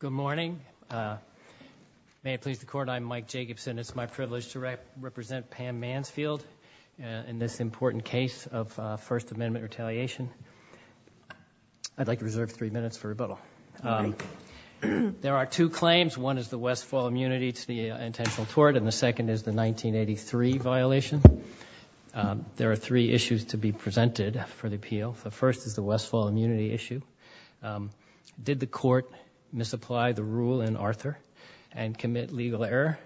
Good morning. May it please the court, I'm Mike Jacobson. It's my privilege to represent Pam Mansfield in this important case of First Amendment retaliation. I'd like to reserve three minutes for rebuttal. There are two claims. One is the Westfall immunity, it's the intentional tort, and the second is the 1983 violation. There are three issues to be presented for the appeal. The first is the Westfall immunity issue. Did the court misapply the rule in Arthur and commit legal error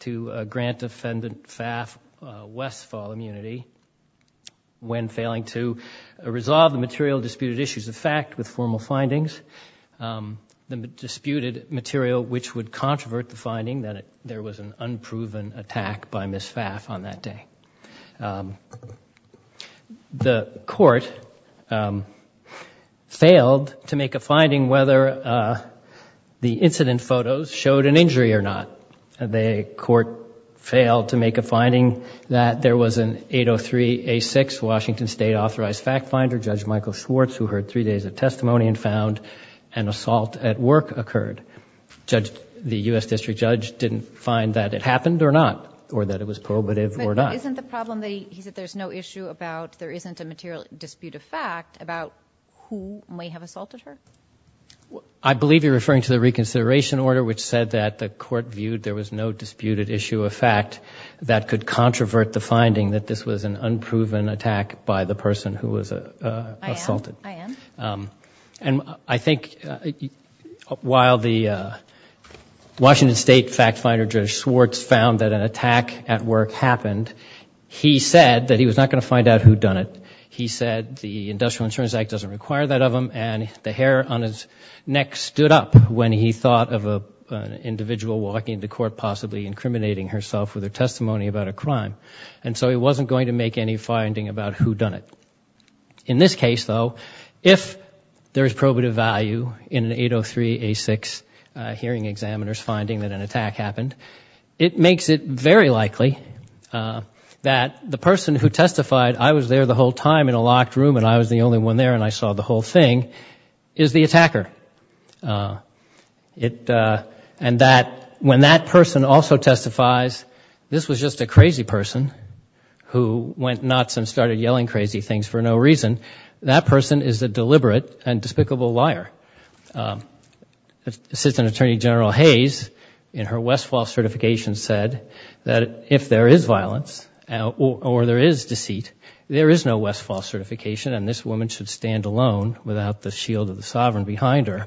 to grant defendant Pfaff Westfall immunity when failing to resolve the material disputed issues of fact with formal findings? The disputed material which would controvert the finding that there was an unproven attack by Ms. Pfaff on that day. The court failed to make a finding whether the incident photos showed an injury or not. The court failed to make a finding that there was an 803 A6 Washington State authorized fact finder, Judge Michael Schwartz, who heard three days of testimony and found an assault at work occurred. The U.S. District Judge didn't find that it happened or not But isn't the problem that there's no issue about there isn't a material dispute of fact about who may have assaulted her? I believe you're referring to the reconsideration order which said that the court viewed there was no disputed issue of fact that could controvert the finding that this was an unproven attack by the person who was assaulted. I am. I think while the Washington State fact finder, Judge Schwartz, found that an attack at work happened, he said that he was not going to find out who'd done it. He said the Industrial Insurance Act doesn't require that of him and the hair on his neck stood up when he thought of an individual walking to court possibly incriminating herself with her testimony about a crime. And so he wasn't going to make any finding about who'd done it. In this case, though, if there's probative value in an 803 A6 hearing examiner's finding that an attack happened, it makes it very likely that the person who testified, I was there the whole time in a locked room and I was the only one there and I saw the whole thing, is the attacker. And that when that person also testifies, this was just a crazy person who went nuts and started yelling crazy things for no reason, that person is a deliberate and despicable liar. Assistant Attorney General Hayes, in her Westfall certification, said that if there is violence or there is deceit, there is no Westfall certification and this woman should stand alone without the shield of the sovereign behind her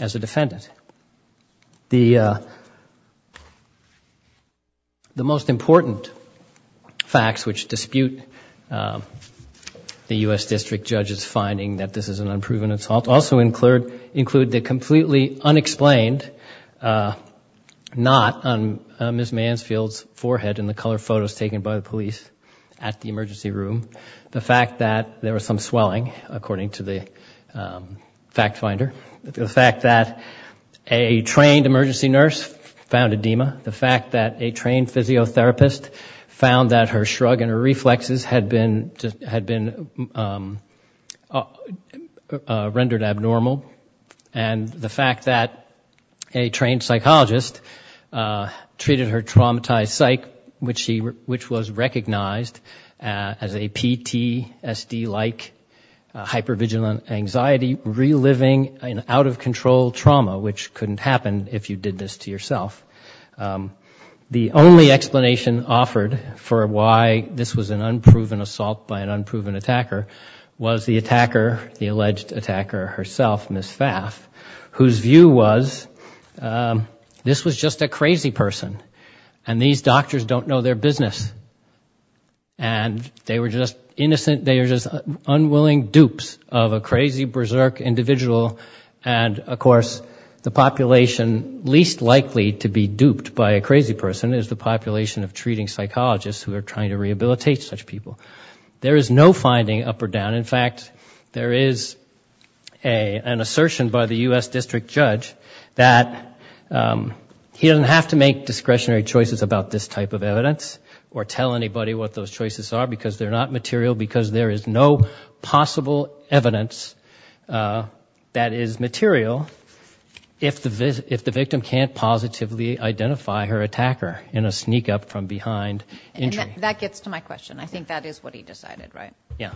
as a defendant. The most important facts which dispute the U.S. District Judge's finding that this is an unproven assault also include the completely unexplained knot on Ms. Mansfield's forehead in the color photos taken by the police at the emergency room, the fact that there was some swelling, according to the fact finder, the fact that a trained emergency nurse found edema, the fact that a trained physiotherapist found that her shrug and her reflexes had been rendered abnormal, and the fact that a trained psychologist treated her traumatized psych, which was recognized as a PTSD-like hypervigilant anxiety, reliving an out-of-control trauma which couldn't happen if you did this to yourself. The only explanation offered for why this was an unproven assault by an unproven attacker was the attacker, the alleged attacker herself, Ms. Pfaff, whose view was this was just a doctors don't know their business. And they were just innocent, they were just unwilling dupes of a crazy, berserk individual. And of course, the population least likely to be duped by a crazy person is the population of treating psychologists who are trying to rehabilitate such people. There is no finding up or down. In fact, there is an assertion by the U.S. District Judge that he doesn't have to make any type of evidence or tell anybody what those choices are because they're not material, because there is no possible evidence that is material if the victim can't positively identify her attacker in a sneak up from behind injury. That gets to my question. I think that is what he decided, right? Yeah.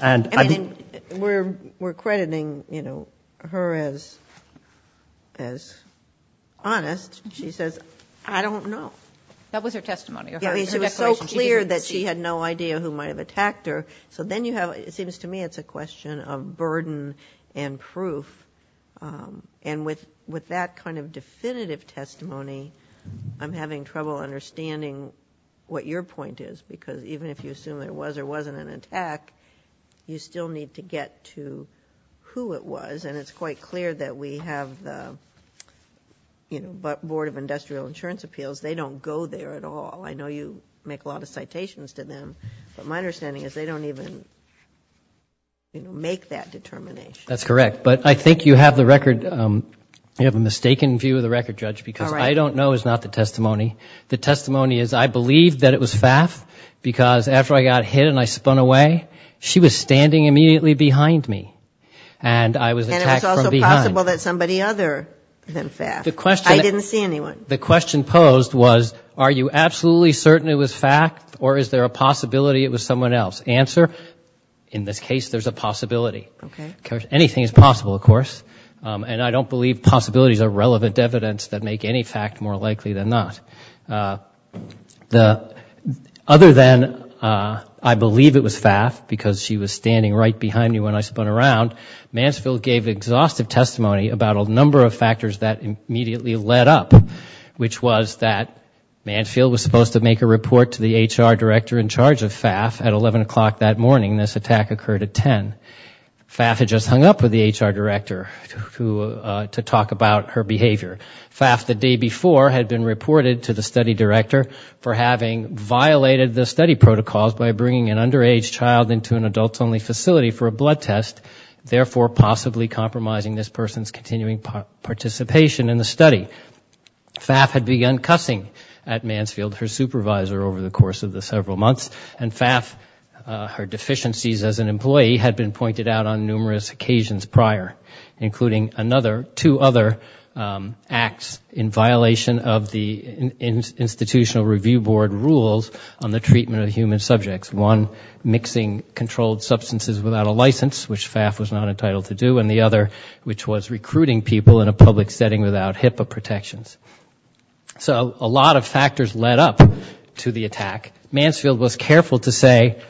I mean, we're crediting, you know, her as honest. She says, I don't know. That was her testimony. I mean, she was so clear that she had no idea who might have attacked her. So then you have, it seems to me it's a question of burden and proof. And with that kind of definitive testimony, I'm having trouble understanding what your point is. Because even if you assume there was or wasn't an attack, you still need to get to who it was. And it's quite clear that we have the, you know, Board of Industrial Insurance Appeals, they don't go there at all. I know you make a lot of citations to them, but my understanding is they don't even make that determination. That's correct. But I think you have the record, you have a mistaken view of the record, Judge, because I don't know is not the testimony. The testimony is, I believe that it was Pfaff, because after I got hit and I spun away, she was standing immediately behind me. And I was attacked from behind. And it was also possible that somebody other than Pfaff. The question... I didn't see anyone. The question posed was, are you absolutely certain it was Pfaff, or is there a possibility it was someone else? Answer, in this case, there's a possibility. Anything is possible, of course. And I don't believe possibilities are relevant evidence that make any fact more likely than not. Other than I believe it was Pfaff, because she was standing right behind me when I spun around, Mansfield gave exhaustive testimony about a number of factors that immediately led up, which was that Mansfield was supposed to make a report to the HR director in charge of Pfaff at 11 o'clock that morning. This attack occurred at 10. Pfaff had just hung up with the HR director to talk about her behavior. Pfaff, the day before, had been reported to the study director for having violated the study protocols by bringing an underage child into an adults-only facility for a blood test, therefore possibly compromising this person's continuing participation in the study. Pfaff had begun cussing at Mansfield, her supervisor, over the course of the several months. And Pfaff, her deficiencies as an employee, had been pointed out on numerous occasions prior, including two other acts in violation of the Institutional Review Board rules on the treatment of human subjects, one mixing controlled substances without a license, which Pfaff was not entitled to do, and the other, which was recruiting people in a public setting without HIPAA protections. So a lot of factors led up to the attack. Mansfield was careful to say,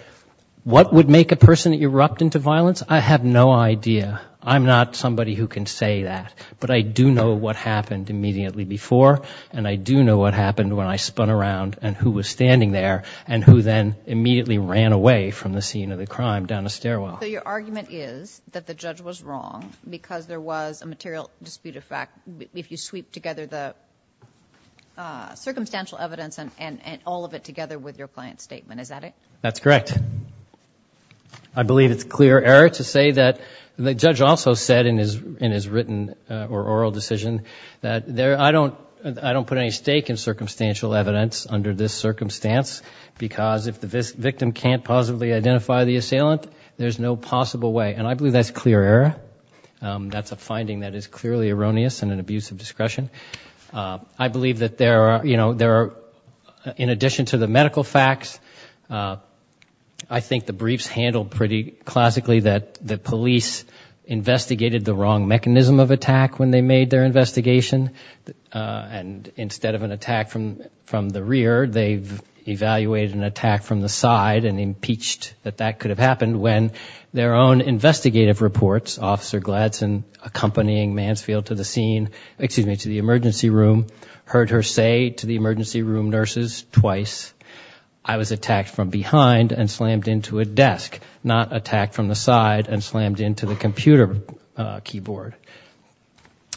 what would make a person erupt into violence? I have no idea. I'm not somebody who can say that. But I do know what happened immediately before, and I do know what happened when I spun around and who was standing there, and who then immediately ran away from the scene of the crime down a stairwell. So your argument is that the judge was wrong because there was a material dispute of fact if you sweep together the circumstantial evidence and all of it together with your client's statement. Is that it? That's correct. And I believe it's clear error to say that the judge also said in his written or oral decision that I don't put any stake in circumstantial evidence under this circumstance because if the victim can't possibly identify the assailant, there's no possible way. And I believe that's clear error. That's a finding that is clearly erroneous and an abuse of discretion. I believe that there are, you know, in addition to the medical facts, I think the briefs handle pretty classically that the police investigated the wrong mechanism of attack when they made their investigation. And instead of an attack from the rear, they've evaluated an attack from the side and impeached that that could have happened when their own investigative reports, Officer Gladson accompanying Mansfield to the scene, excuse me, to the emergency room, heard her say to the emergency room nurses twice, I was attacked from behind and slammed into a desk, not attacked from the side and slammed into the computer keyboard.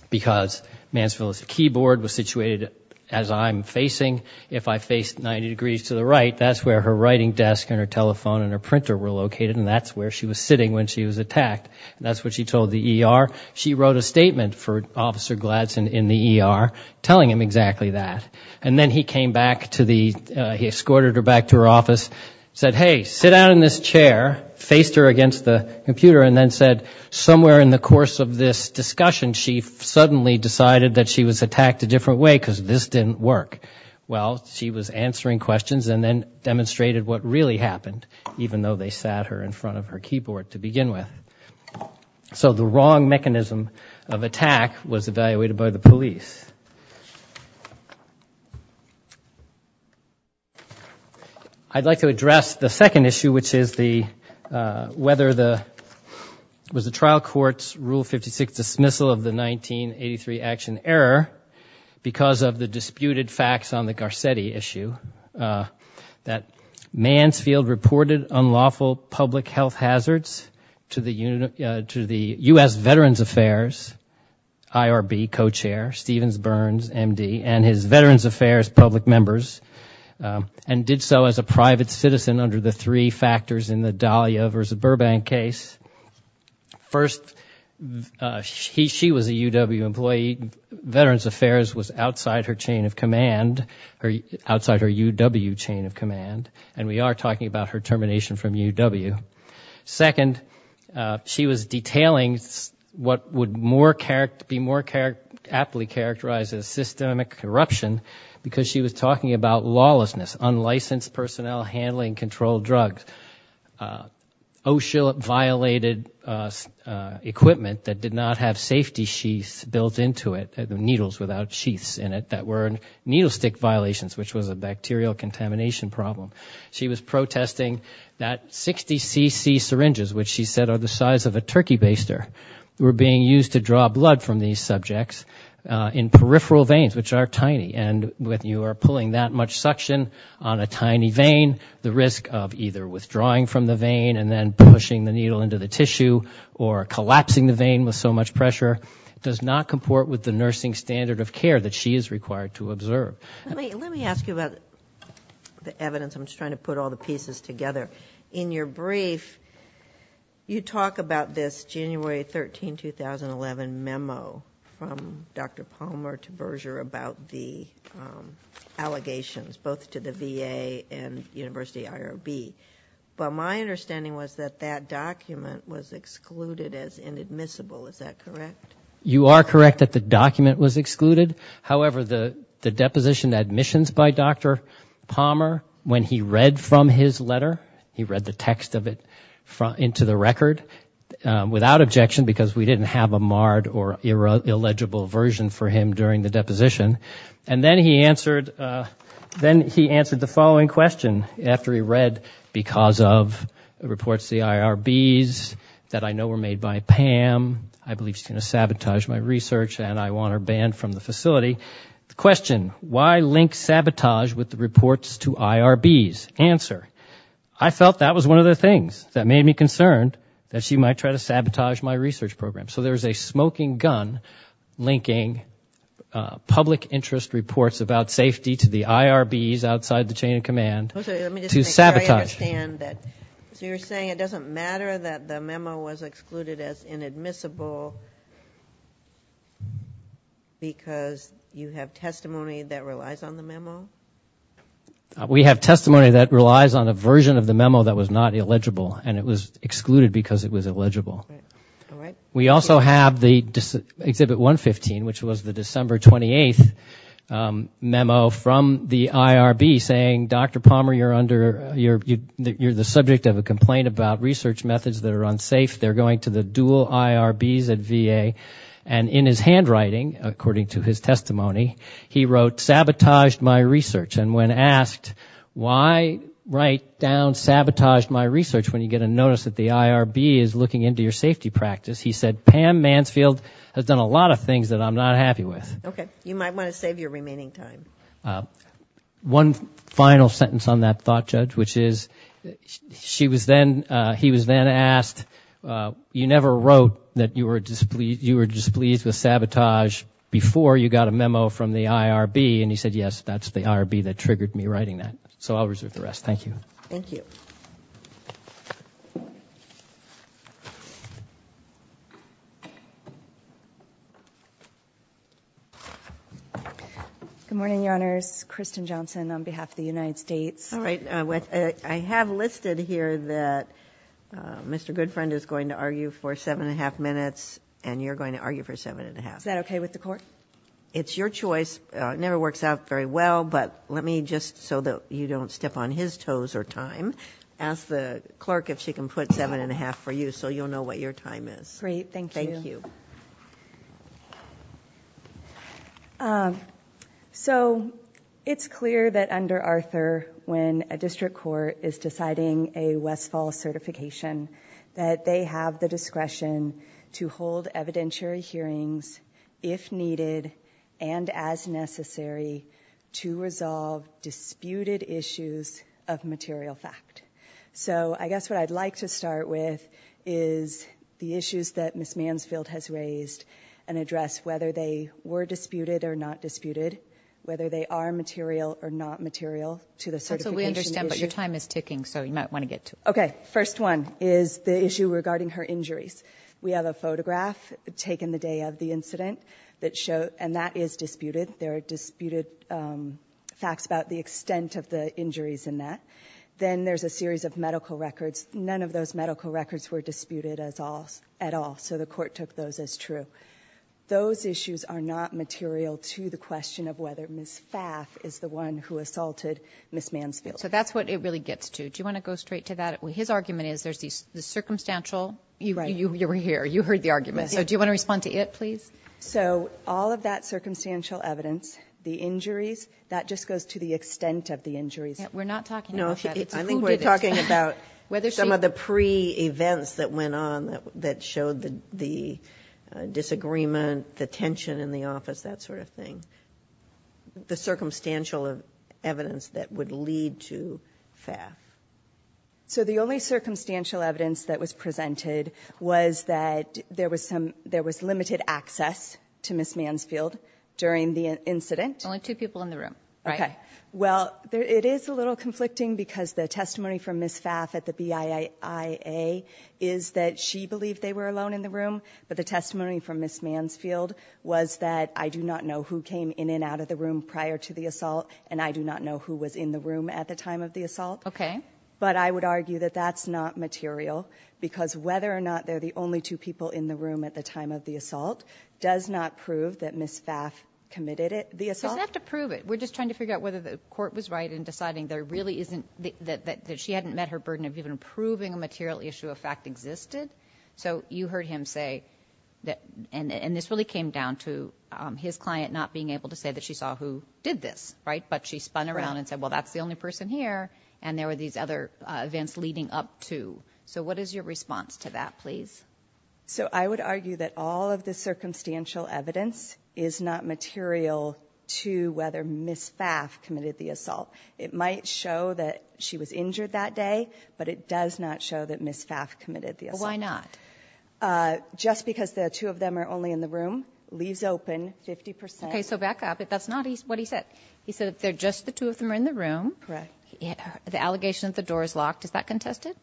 Because Mansfield's keyboard was situated as I'm facing. If I face 90 degrees to the right, that's where her writing desk and her telephone and her printer were located and that's where she was sitting when she was attacked. That's what she told the ER. She wrote a statement for Officer Gladson in the ER telling him exactly that. And then he came back to the, he escorted her back to her office, said, hey, sit down in this chair, faced her against the computer and then said somewhere in the course of this discussion she suddenly decided that she was attacked a different way because this didn't work. Well, she was answering questions and then demonstrated what really happened, even though they sat her in front of her keyboard to begin with. So the wrong mechanism of attack was evaluated by the police. I'd like to address the second issue, which is the, whether the, was the trial court's Rule 56 dismissal of the 1983 action error because of the disputed facts on the Garcetti issue, that Mansfield reported unlawful public health hazards to the US Veterans Affairs IRB co-chair, Stevens Burns, MD, and his Veterans Affairs public members and did so as a private citizen under the three factors in the Dahlia v. Burbank case. First, she was a UW employee. She, Veterans Affairs was outside her chain of command, outside her UW chain of command, and we are talking about her termination from UW. Second, she was detailing what would more, be more aptly characterized as systemic corruption because she was talking about lawlessness, unlicensed personnel handling controlled drugs. OSHA violated equipment that did not have safety sheaths built into it, needles without sheaths in it, that were needle stick violations, which was a bacterial contamination problem. She was protesting that 60cc syringes, which she said are the size of a turkey baster, were being used to draw blood from these subjects in peripheral veins, which are tiny. And when you are pulling that much suction on a tiny vein, the risk of either withdrawing from the vein and then pushing the needle into the tissue, or collapsing the vein with so much pressure, does not comport with the nursing standard of care that she is required to observe. Let me ask you about the evidence, I'm just trying to put all the pieces together. In your brief, you talk about this January 13, 2011 memo from Dr. Palmer to Berger about the allegations, both to the VA and University IRB, but my understanding was that that document was excluded as inadmissible, is that correct? You are correct that the document was excluded, however the deposition admissions by Dr. Palmer, when he read from his letter, he read the text of it into the record, without objection because we didn't have a marred or illegible version for him during the deposition, and then he answered the following question, after he read, because of reports to the IRBs that I know were made by Pam, I believe she's going to sabotage my research and I want her banned from the facility, the question, why link sabotage with the reports to IRBs, answer, I felt that was one of the things that made me concerned, that she might try to sabotage my research program. So there's a smoking gun linking public interest reports about safety to the IRBs outside the chain of command to sabotage. So you're saying it doesn't matter that the memo was excluded as inadmissible because you have testimony that relies on the memo? We have testimony that relies on a version of the memo that was not illegible and it was excluded because it was illegible. We also have the Exhibit 115, which was the December 28th memo from the IRB saying, Dr. Palmer, you're the subject of a complaint about research methods that are unsafe, they're going to the dual IRBs at VA, and in his handwriting, according to his testimony, he wrote, sabotaged my research. And when asked, why write down sabotaged my research when you get a notice that the IRB is looking into your safety practice, he said, Pam Mansfield has done a lot of things that I'm not happy with. Okay. You might want to save your remaining time. One final sentence on that thought, Judge, which is, he was then asked, you never wrote that you were displeased with sabotage before you got a memo from the IRB and he said, yes, that's the IRB that triggered me writing that. So I'll reserve the rest. Thank you. Thank you. Good morning, Your Honors. Kristen Johnson on behalf of the United States. All right. I have listed here that Mr. Goodfriend is going to argue for seven and a half minutes and you're going to argue for seven and a half. Is that okay with the Court? It's your choice. It never works out very well, but let me, just so that you don't step on his toes or time, ask the clerk if she can put seven and a half for you so you'll know what your time is. Great. Thank you. Thank you. It's clear that under Arthur, when a district court is deciding a Westfall certification, that they have the discretion to hold evidentiary hearings if needed and as necessary to resolve disputed issues of material fact. So I guess what I'd like to start with is the issues that Ms. Mansfield has raised and address whether they were disputed or not disputed, whether they are material or not material to the certification issue. So we understand, but your time is ticking, so you might want to get to it. Okay. First one is the issue regarding her injuries. We have a photograph taken the day of the incident and that is disputed. There are disputed facts about the extent of the injuries in that. Then there's a series of medical records. None of those medical records were disputed at all, so the Court took those as true. Those issues are not material to the question of whether Ms. Pfaff is the one who assaulted Ms. Mansfield. So that's what it really gets to. Do you want to go straight to that? His argument is there's the circumstantial... You were here. You heard the argument. So do you want to respond to it, please? So all of that circumstantial evidence, the injuries, that just goes to the extent of We're not talking about that. It's who did it. No, I think we're talking about some of the pre-events that went on that showed the disagreement, the tension in the office, that sort of thing. The circumstantial evidence that would lead to Pfaff. So the only circumstantial evidence that was presented was that there was limited access to Ms. Mansfield during the incident. Only two people in the room. Right. Okay. Well, it is a little conflicting because the testimony from Ms. Pfaff at the BIIA is that she believed they were alone in the room, but the testimony from Ms. Mansfield was that I do not know who came in and out of the room prior to the assault, and I do not know who was in the room at the time of the assault. But I would argue that that's not material because whether or not they're the only two people in the room at the time of the assault does not prove that Ms. Pfaff committed the assault. You just have to prove it. We're just trying to figure out whether the court was right in deciding that she hadn't met her burden of even proving a material issue of fact existed. So you heard him say that, and this really came down to his client not being able to say that she saw who did this, right? But she spun around and said, well, that's the only person here. And there were these other events leading up to. So what is your response to that, please? So I would argue that all of the circumstantial evidence is not material to whether Ms. Pfaff committed the assault. It might show that she was injured that day, but it does not show that Ms. Pfaff committed the assault. Well, why not? Just because the two of them are only in the room, leaves open 50 percent. Okay, so back up. That's not what he said. He said that they're just the two of them are in the room, the allegation that the door is locked. Is that contested?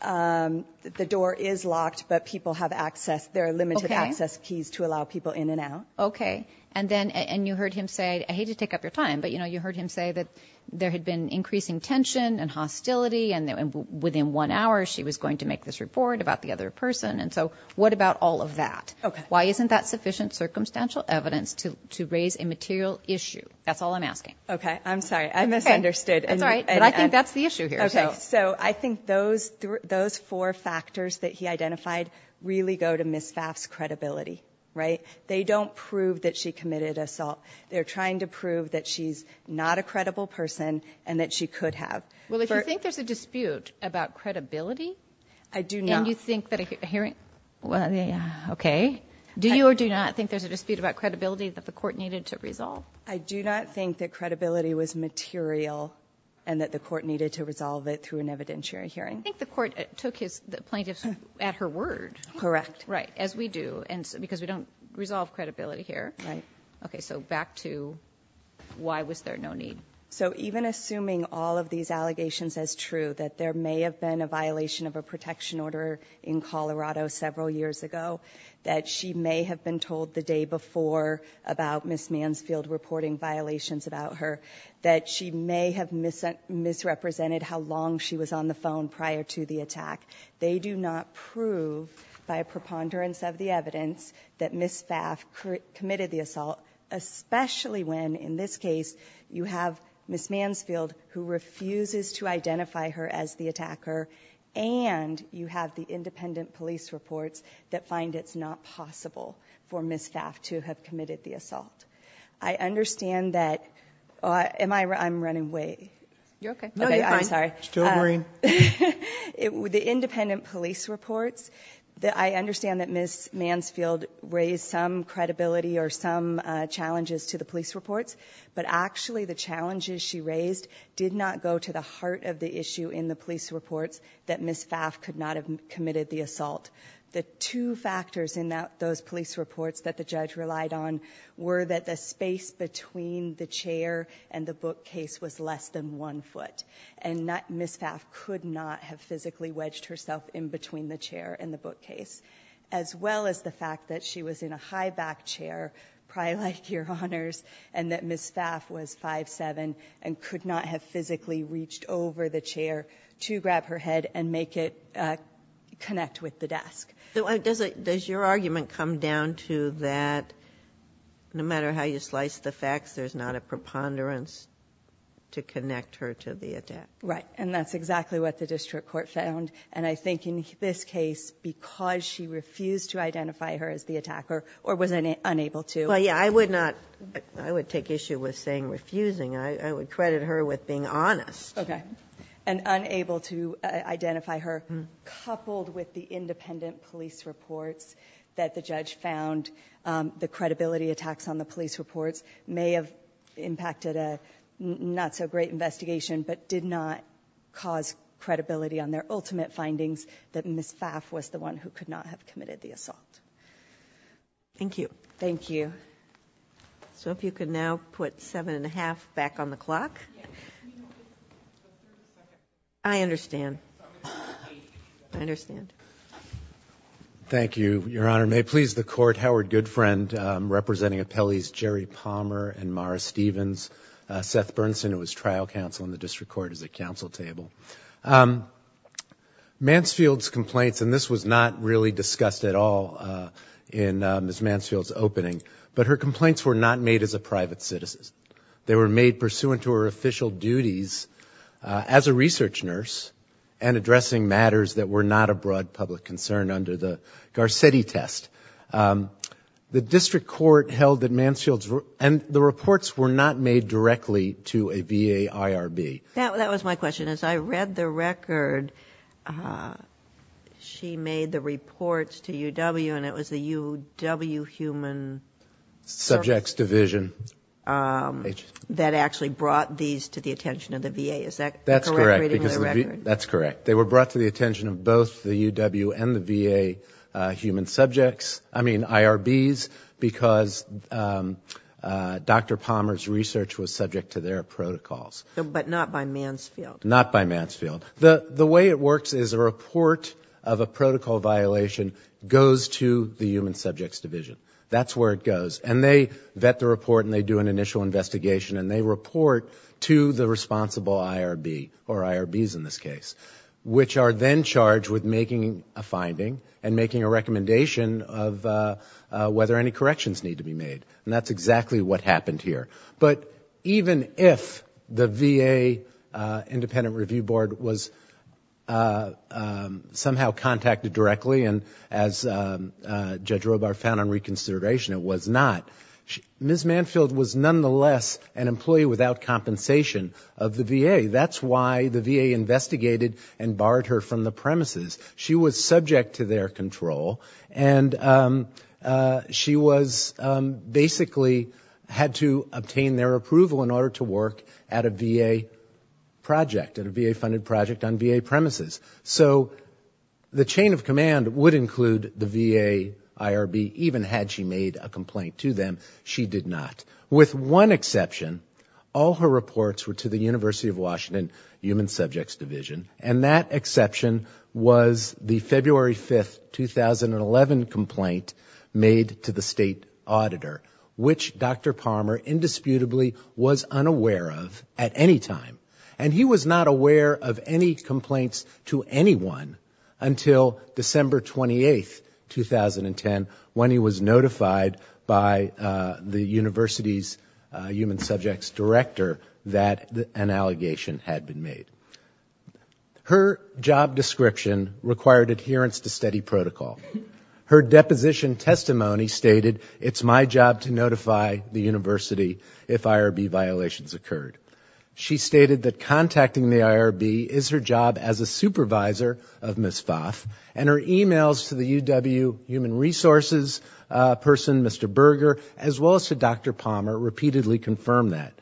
The door is locked, but people have access, there are limited access keys to allow people in and out. Okay. And then, and you heard him say, I hate to take up your time, but you know, you heard him say that there had been increasing tension and hostility and within one hour she was going to make this report about the other person. And so what about all of that? Why isn't that sufficient circumstantial evidence to raise a material issue? That's all I'm asking. Okay. I'm sorry. I misunderstood. That's all right. But I think that's the issue here. Okay. So I think those four factors that he identified really go to Ms. Pfaff's credibility, right? They don't prove that she committed assault. They're trying to prove that she's not a credible person and that she could have. Well, if you think there's a dispute about credibility. I do not. And you think that a hearing, well, yeah, okay. Do you or do you not think there's a dispute about credibility that the court needed to resolve? I do not think that credibility was material and that the court needed to resolve it through an evidentiary hearing. I think the court took his plaintiffs at her word. Correct. Right. As we do and because we don't resolve credibility here. Right. Okay. So back to why was there no need? So even assuming all of these allegations as true, that there may have been a violation of a protection order in Colorado several years ago, that she may have been told the day before about Ms. Mansfield reporting violations about her, that she may have misrepresented how long she was on the phone prior to the attack. They do not prove by a preponderance of the evidence that Ms. Pfaff committed the assault, especially when, in this case, you have Ms. Mansfield who refuses to identify her as the attacker and you have the independent police reports that find it's not possible for Ms. Pfaff to have committed the assault. I understand that, am I, I'm running way. You're okay. No, you're fine. I'm sorry. Still green. The independent police reports that I understand that Ms. Mansfield raised some credibility or some challenges to the police reports, but actually the challenges she raised did not go to the heart of the issue in the police reports that Ms. Pfaff could not have committed the assault. The two factors in those police reports that the judge relied on were that the space between the chair and the bookcase was less than one foot, and Ms. Pfaff could not have physically wedged herself in between the chair and the bookcase, as well as the fact that she was in a high back chair, probably like your honors, and that Ms. Pfaff was 5'7", and could not have physically reached over the chair to grab her head and make it connect with the desk. Does your argument come down to that, no matter how you slice the facts, there's not a preponderance to connect her to the attacker? Right, and that's exactly what the district court found, and I think in this case, because she refused to identify her as the attacker, or was unable to. Well, yeah, I would take issue with saying refusing, I would credit her with being honest. Okay, and unable to identify her, coupled with the independent police reports that the judge found, the credibility attacks on the police reports may have impacted a not-so-great investigation, but did not cause credibility on their ultimate findings that Ms. Pfaff was the one who could not have committed the assault. Thank you. Thank you. So, if you could now put 7-1-1 back on the clock. I understand. I understand. Thank you, your honor. May it please the court, Howard Goodfriend, representing appellees Jerry Palmer and Mara Stevens, Seth Bernson, who was trial counsel in the district court, is at counsel table. Mansfield's complaints, and this was not really discussed at all in Ms. Mansfield's opening, but her complaints were not made as a private citizen. They were made pursuant to her official duties as a research nurse, and addressing matters that were not a broad public concern under the Garcetti test. The district court held that Mansfield's... and the reports were not made directly to a BA IRB. That was my question. As I read the record, she made the reports to UW, and it was the UW Human... Subjects Division. That actually brought these to the attention of the VA. Is that correct? That's correct. That's correct. They were brought to the attention of both the UW and the VA human subjects, I mean IRBs, because Dr. Palmer's research was subject to their protocols. But not by Mansfield. Not by Mansfield. The way it works is a report of a protocol violation goes to the Human Subjects Division. That's where it goes. And they vet the report, and they do an initial investigation, and they report to the responsible IRB, or IRBs in this case, which are then charged with making a finding and making a recommendation of whether any corrections need to be made. And that's exactly what happened here. But even if the VA Independent Review Board was somehow contacted directly, and as Judge Robar found on reconsideration, it was not, Ms. Mansfield was nonetheless an employee without compensation of the VA. That's why the VA investigated and barred her from the premises. She was subject to their control, and she was basically had to obtain their approval in order to work at a VA project, at a VA funded project on VA premises. So the chain of command would include the VA IRB, even had she made a complaint to them. She did not. With one exception, all her reports were to the University of Washington Human Subjects Division. And that exception was the February 5th, 2011 complaint made to the State Auditor, which Dr. Palmer indisputably was unaware of at any time. And he was not aware of any complaints to anyone until December 28th, 2010, when he was notified by the university's Human Subjects Director that an allegation had been made. Her job description required adherence to steady protocol. Her deposition testimony stated, it's my job to notify the university if IRB violations occurred. She stated that contacting the IRB is her job as a supervisor of Ms. Pfaff. And her emails to the UW Human Resources person, Mr. Berger, as well as to Dr. Palmer, repeatedly confirmed that.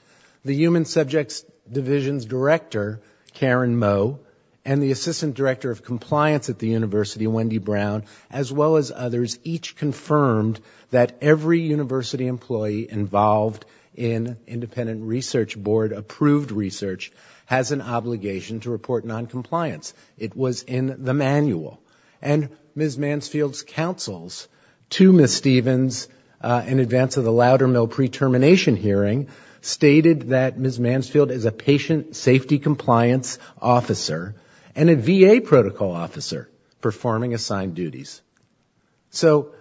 The Human Subjects Division's Director, Karen Moe, and the Assistant Director of Compliance at the university, Wendy Brown, as well as others, each confirmed that every university employee involved in independent research board approved research has an obligation to report noncompliance. It was in the manual. And Ms. Mansfield's counsels to Ms. Stevens in advance of the Loudermill pre-termination hearing stated that Ms. Mansfield is a patient safety compliance officer and a VA protocol officer performing assigned duties. So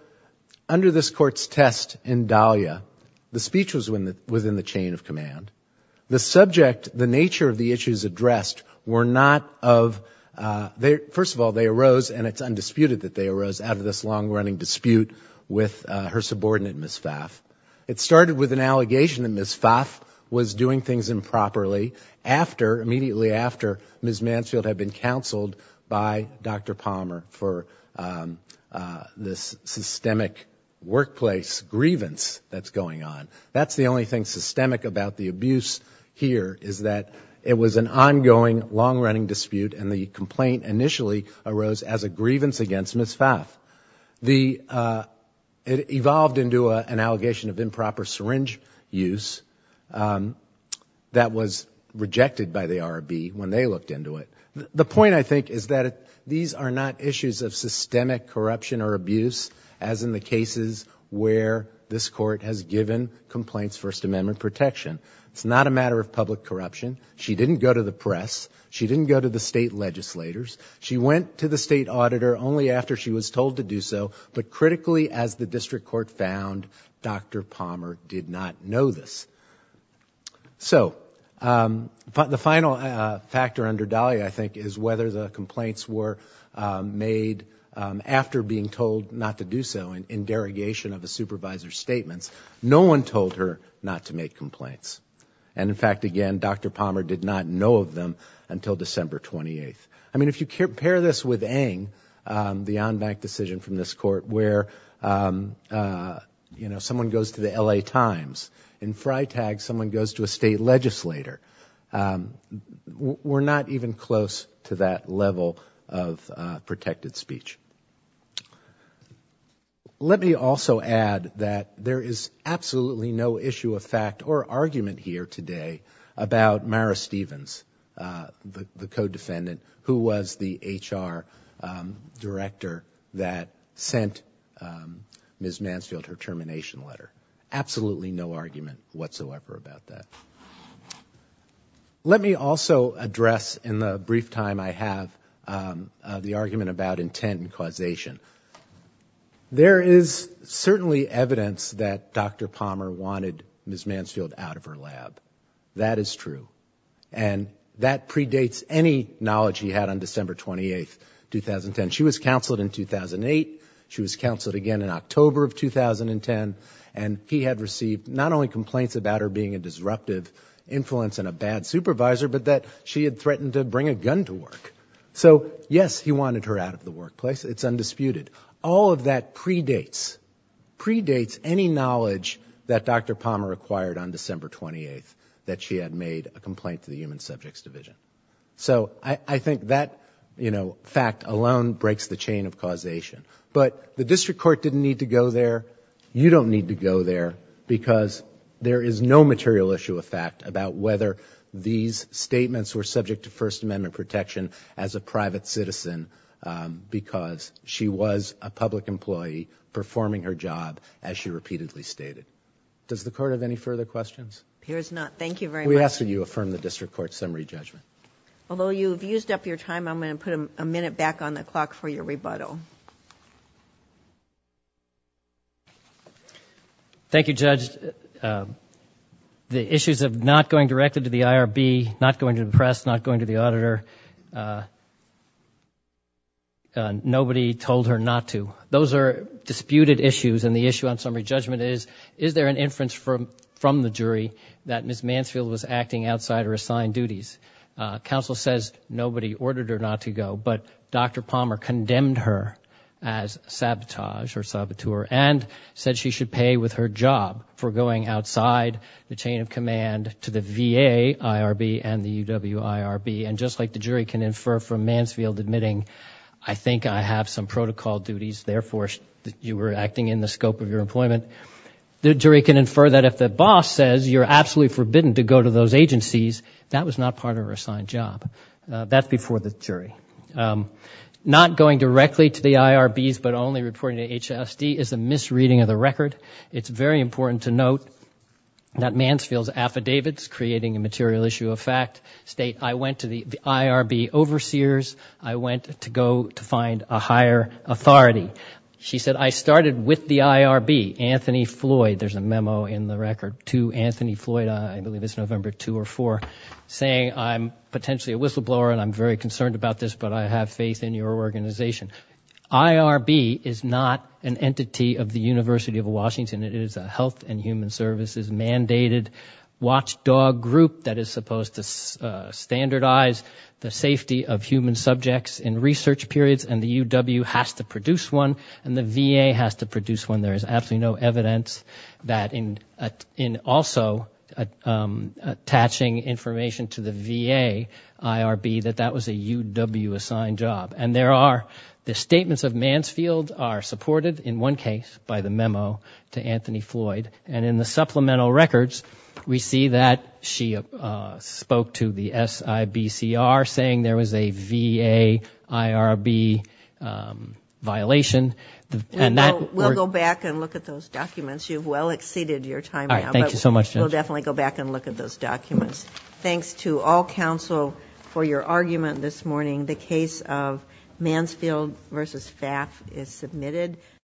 under this Court's test in Dahlia, the speech was within the chain of command. The subject, the nature of the issues addressed were not of, first of all, they arose and it's undisputed that they arose out of this long-running dispute with her subordinate Ms. Pfaff. It started with an allegation that Ms. Pfaff was doing things improperly after, immediately after Ms. Mansfield had been counseled by Dr. Palmer for this systemic workplace grievance that's going on. That's the only thing systemic about the abuse here is that it was an ongoing, long-running dispute and the complaint initially arose as a grievance against Ms. Pfaff. It evolved into an allegation of improper syringe use that was rejected by the RRB when they looked into it. The point, I think, is that these are not issues of systemic corruption or abuse as in the cases where this Court has given complaints First Amendment protection. It's not a matter of public corruption. She didn't go to the press. She didn't go to the state legislators. She went to the state auditor only after she was told to do so, but critically as the District Court found, Dr. Palmer did not know this. So the final factor under Dahlia, I think, is whether the complaints were made after being told not to do so in derogation of the supervisor's statements. No one told her not to make complaints. And in fact, again, Dr. Palmer did not know of them until December 28th. I mean, if you compare this with Eng, the on-bank decision from this Court where someone goes to the LA Times, in FriTag someone goes to a state legislator, we're not even close to that level of protected speech. Let me also add that there is absolutely no issue of fact or argument here today about Mara Stevens, the co-defendant, who was the HR director that sent Ms. Mansfield her termination letter. Absolutely no argument whatsoever about that. Let me also address, in the brief time I have, the argument about intent and causation. There is certainly evidence that Dr. Palmer wanted Ms. Mansfield out of her lab. That is true. And that predates any knowledge he had on December 28th, 2010. She was counseled in 2008. She was counseled again in October of 2010. And he had received not only complaints about her being a disruptive influence and a bad supervisor, but that she had threatened to bring a gun to work. So yes, he wanted her out of the workplace. It's undisputed. All of that predates, predates any knowledge that Dr. Palmer acquired on December 28th, that she had made a complaint to the Human Subjects Division. So I think that fact alone breaks the chain of causation. But the District Court didn't need to go there. You don't need to go there because there is no material issue of fact about whether these statements were subject to First Amendment protection as a private citizen because she was a public employee performing her job as she repeatedly stated. Does the Court have any further questions? There is not. Thank you very much. We ask that you affirm the District Court's summary judgment. Although you've used up your time, I'm going to put a minute back on the clock for your rebuttal. Thank you, Judge. The issues of not going directly to the IRB, not going to the press, not going to the auditor, nobody told her not to. Those are disputed issues and the issue on summary judgment is, is there an inference from the jury that Ms. Mansfield was acting outside her assigned duties? Counsel says nobody ordered her not to go, but Dr. Palmer condemned her as sabotage or said she should pay with her job for going outside the chain of command to the VA IRB and the UW IRB. And just like the jury can infer from Mansfield admitting, I think I have some protocol duties, therefore, you were acting in the scope of your employment, the jury can infer that if the boss says you're absolutely forbidden to go to those agencies, that was not part of her assigned job. That's before the jury. Not going directly to the IRBs but only reporting to HSD is a misreading of the record. It's very important to note that Mansfield's affidavits creating a material issue of fact state I went to the IRB overseers, I went to go to find a higher authority. She said, I started with the IRB, Anthony Floyd, there's a memo in the record to Anthony Floyd, I believe it's November 2 or 4, saying I'm potentially a whistleblower and I'm very but I have faith in your organization. IRB is not an entity of the University of Washington, it is a health and human services mandated watchdog group that is supposed to standardize the safety of human subjects in research periods and the UW has to produce one and the VA has to produce one. There is absolutely no evidence that in also attaching information to the VA IRB that that was a UW assigned job. And there are, the statements of Mansfield are supported in one case by the memo to Anthony Floyd and in the supplemental records we see that she spoke to the SIBCR saying there was a VA IRB violation and that... We'll go back and look at those documents. You've well exceeded your time. Thank you so much. We'll definitely go back and look at those documents. Thanks to all counsel for your argument this morning. The case of Mansfield v. FAF is submitted.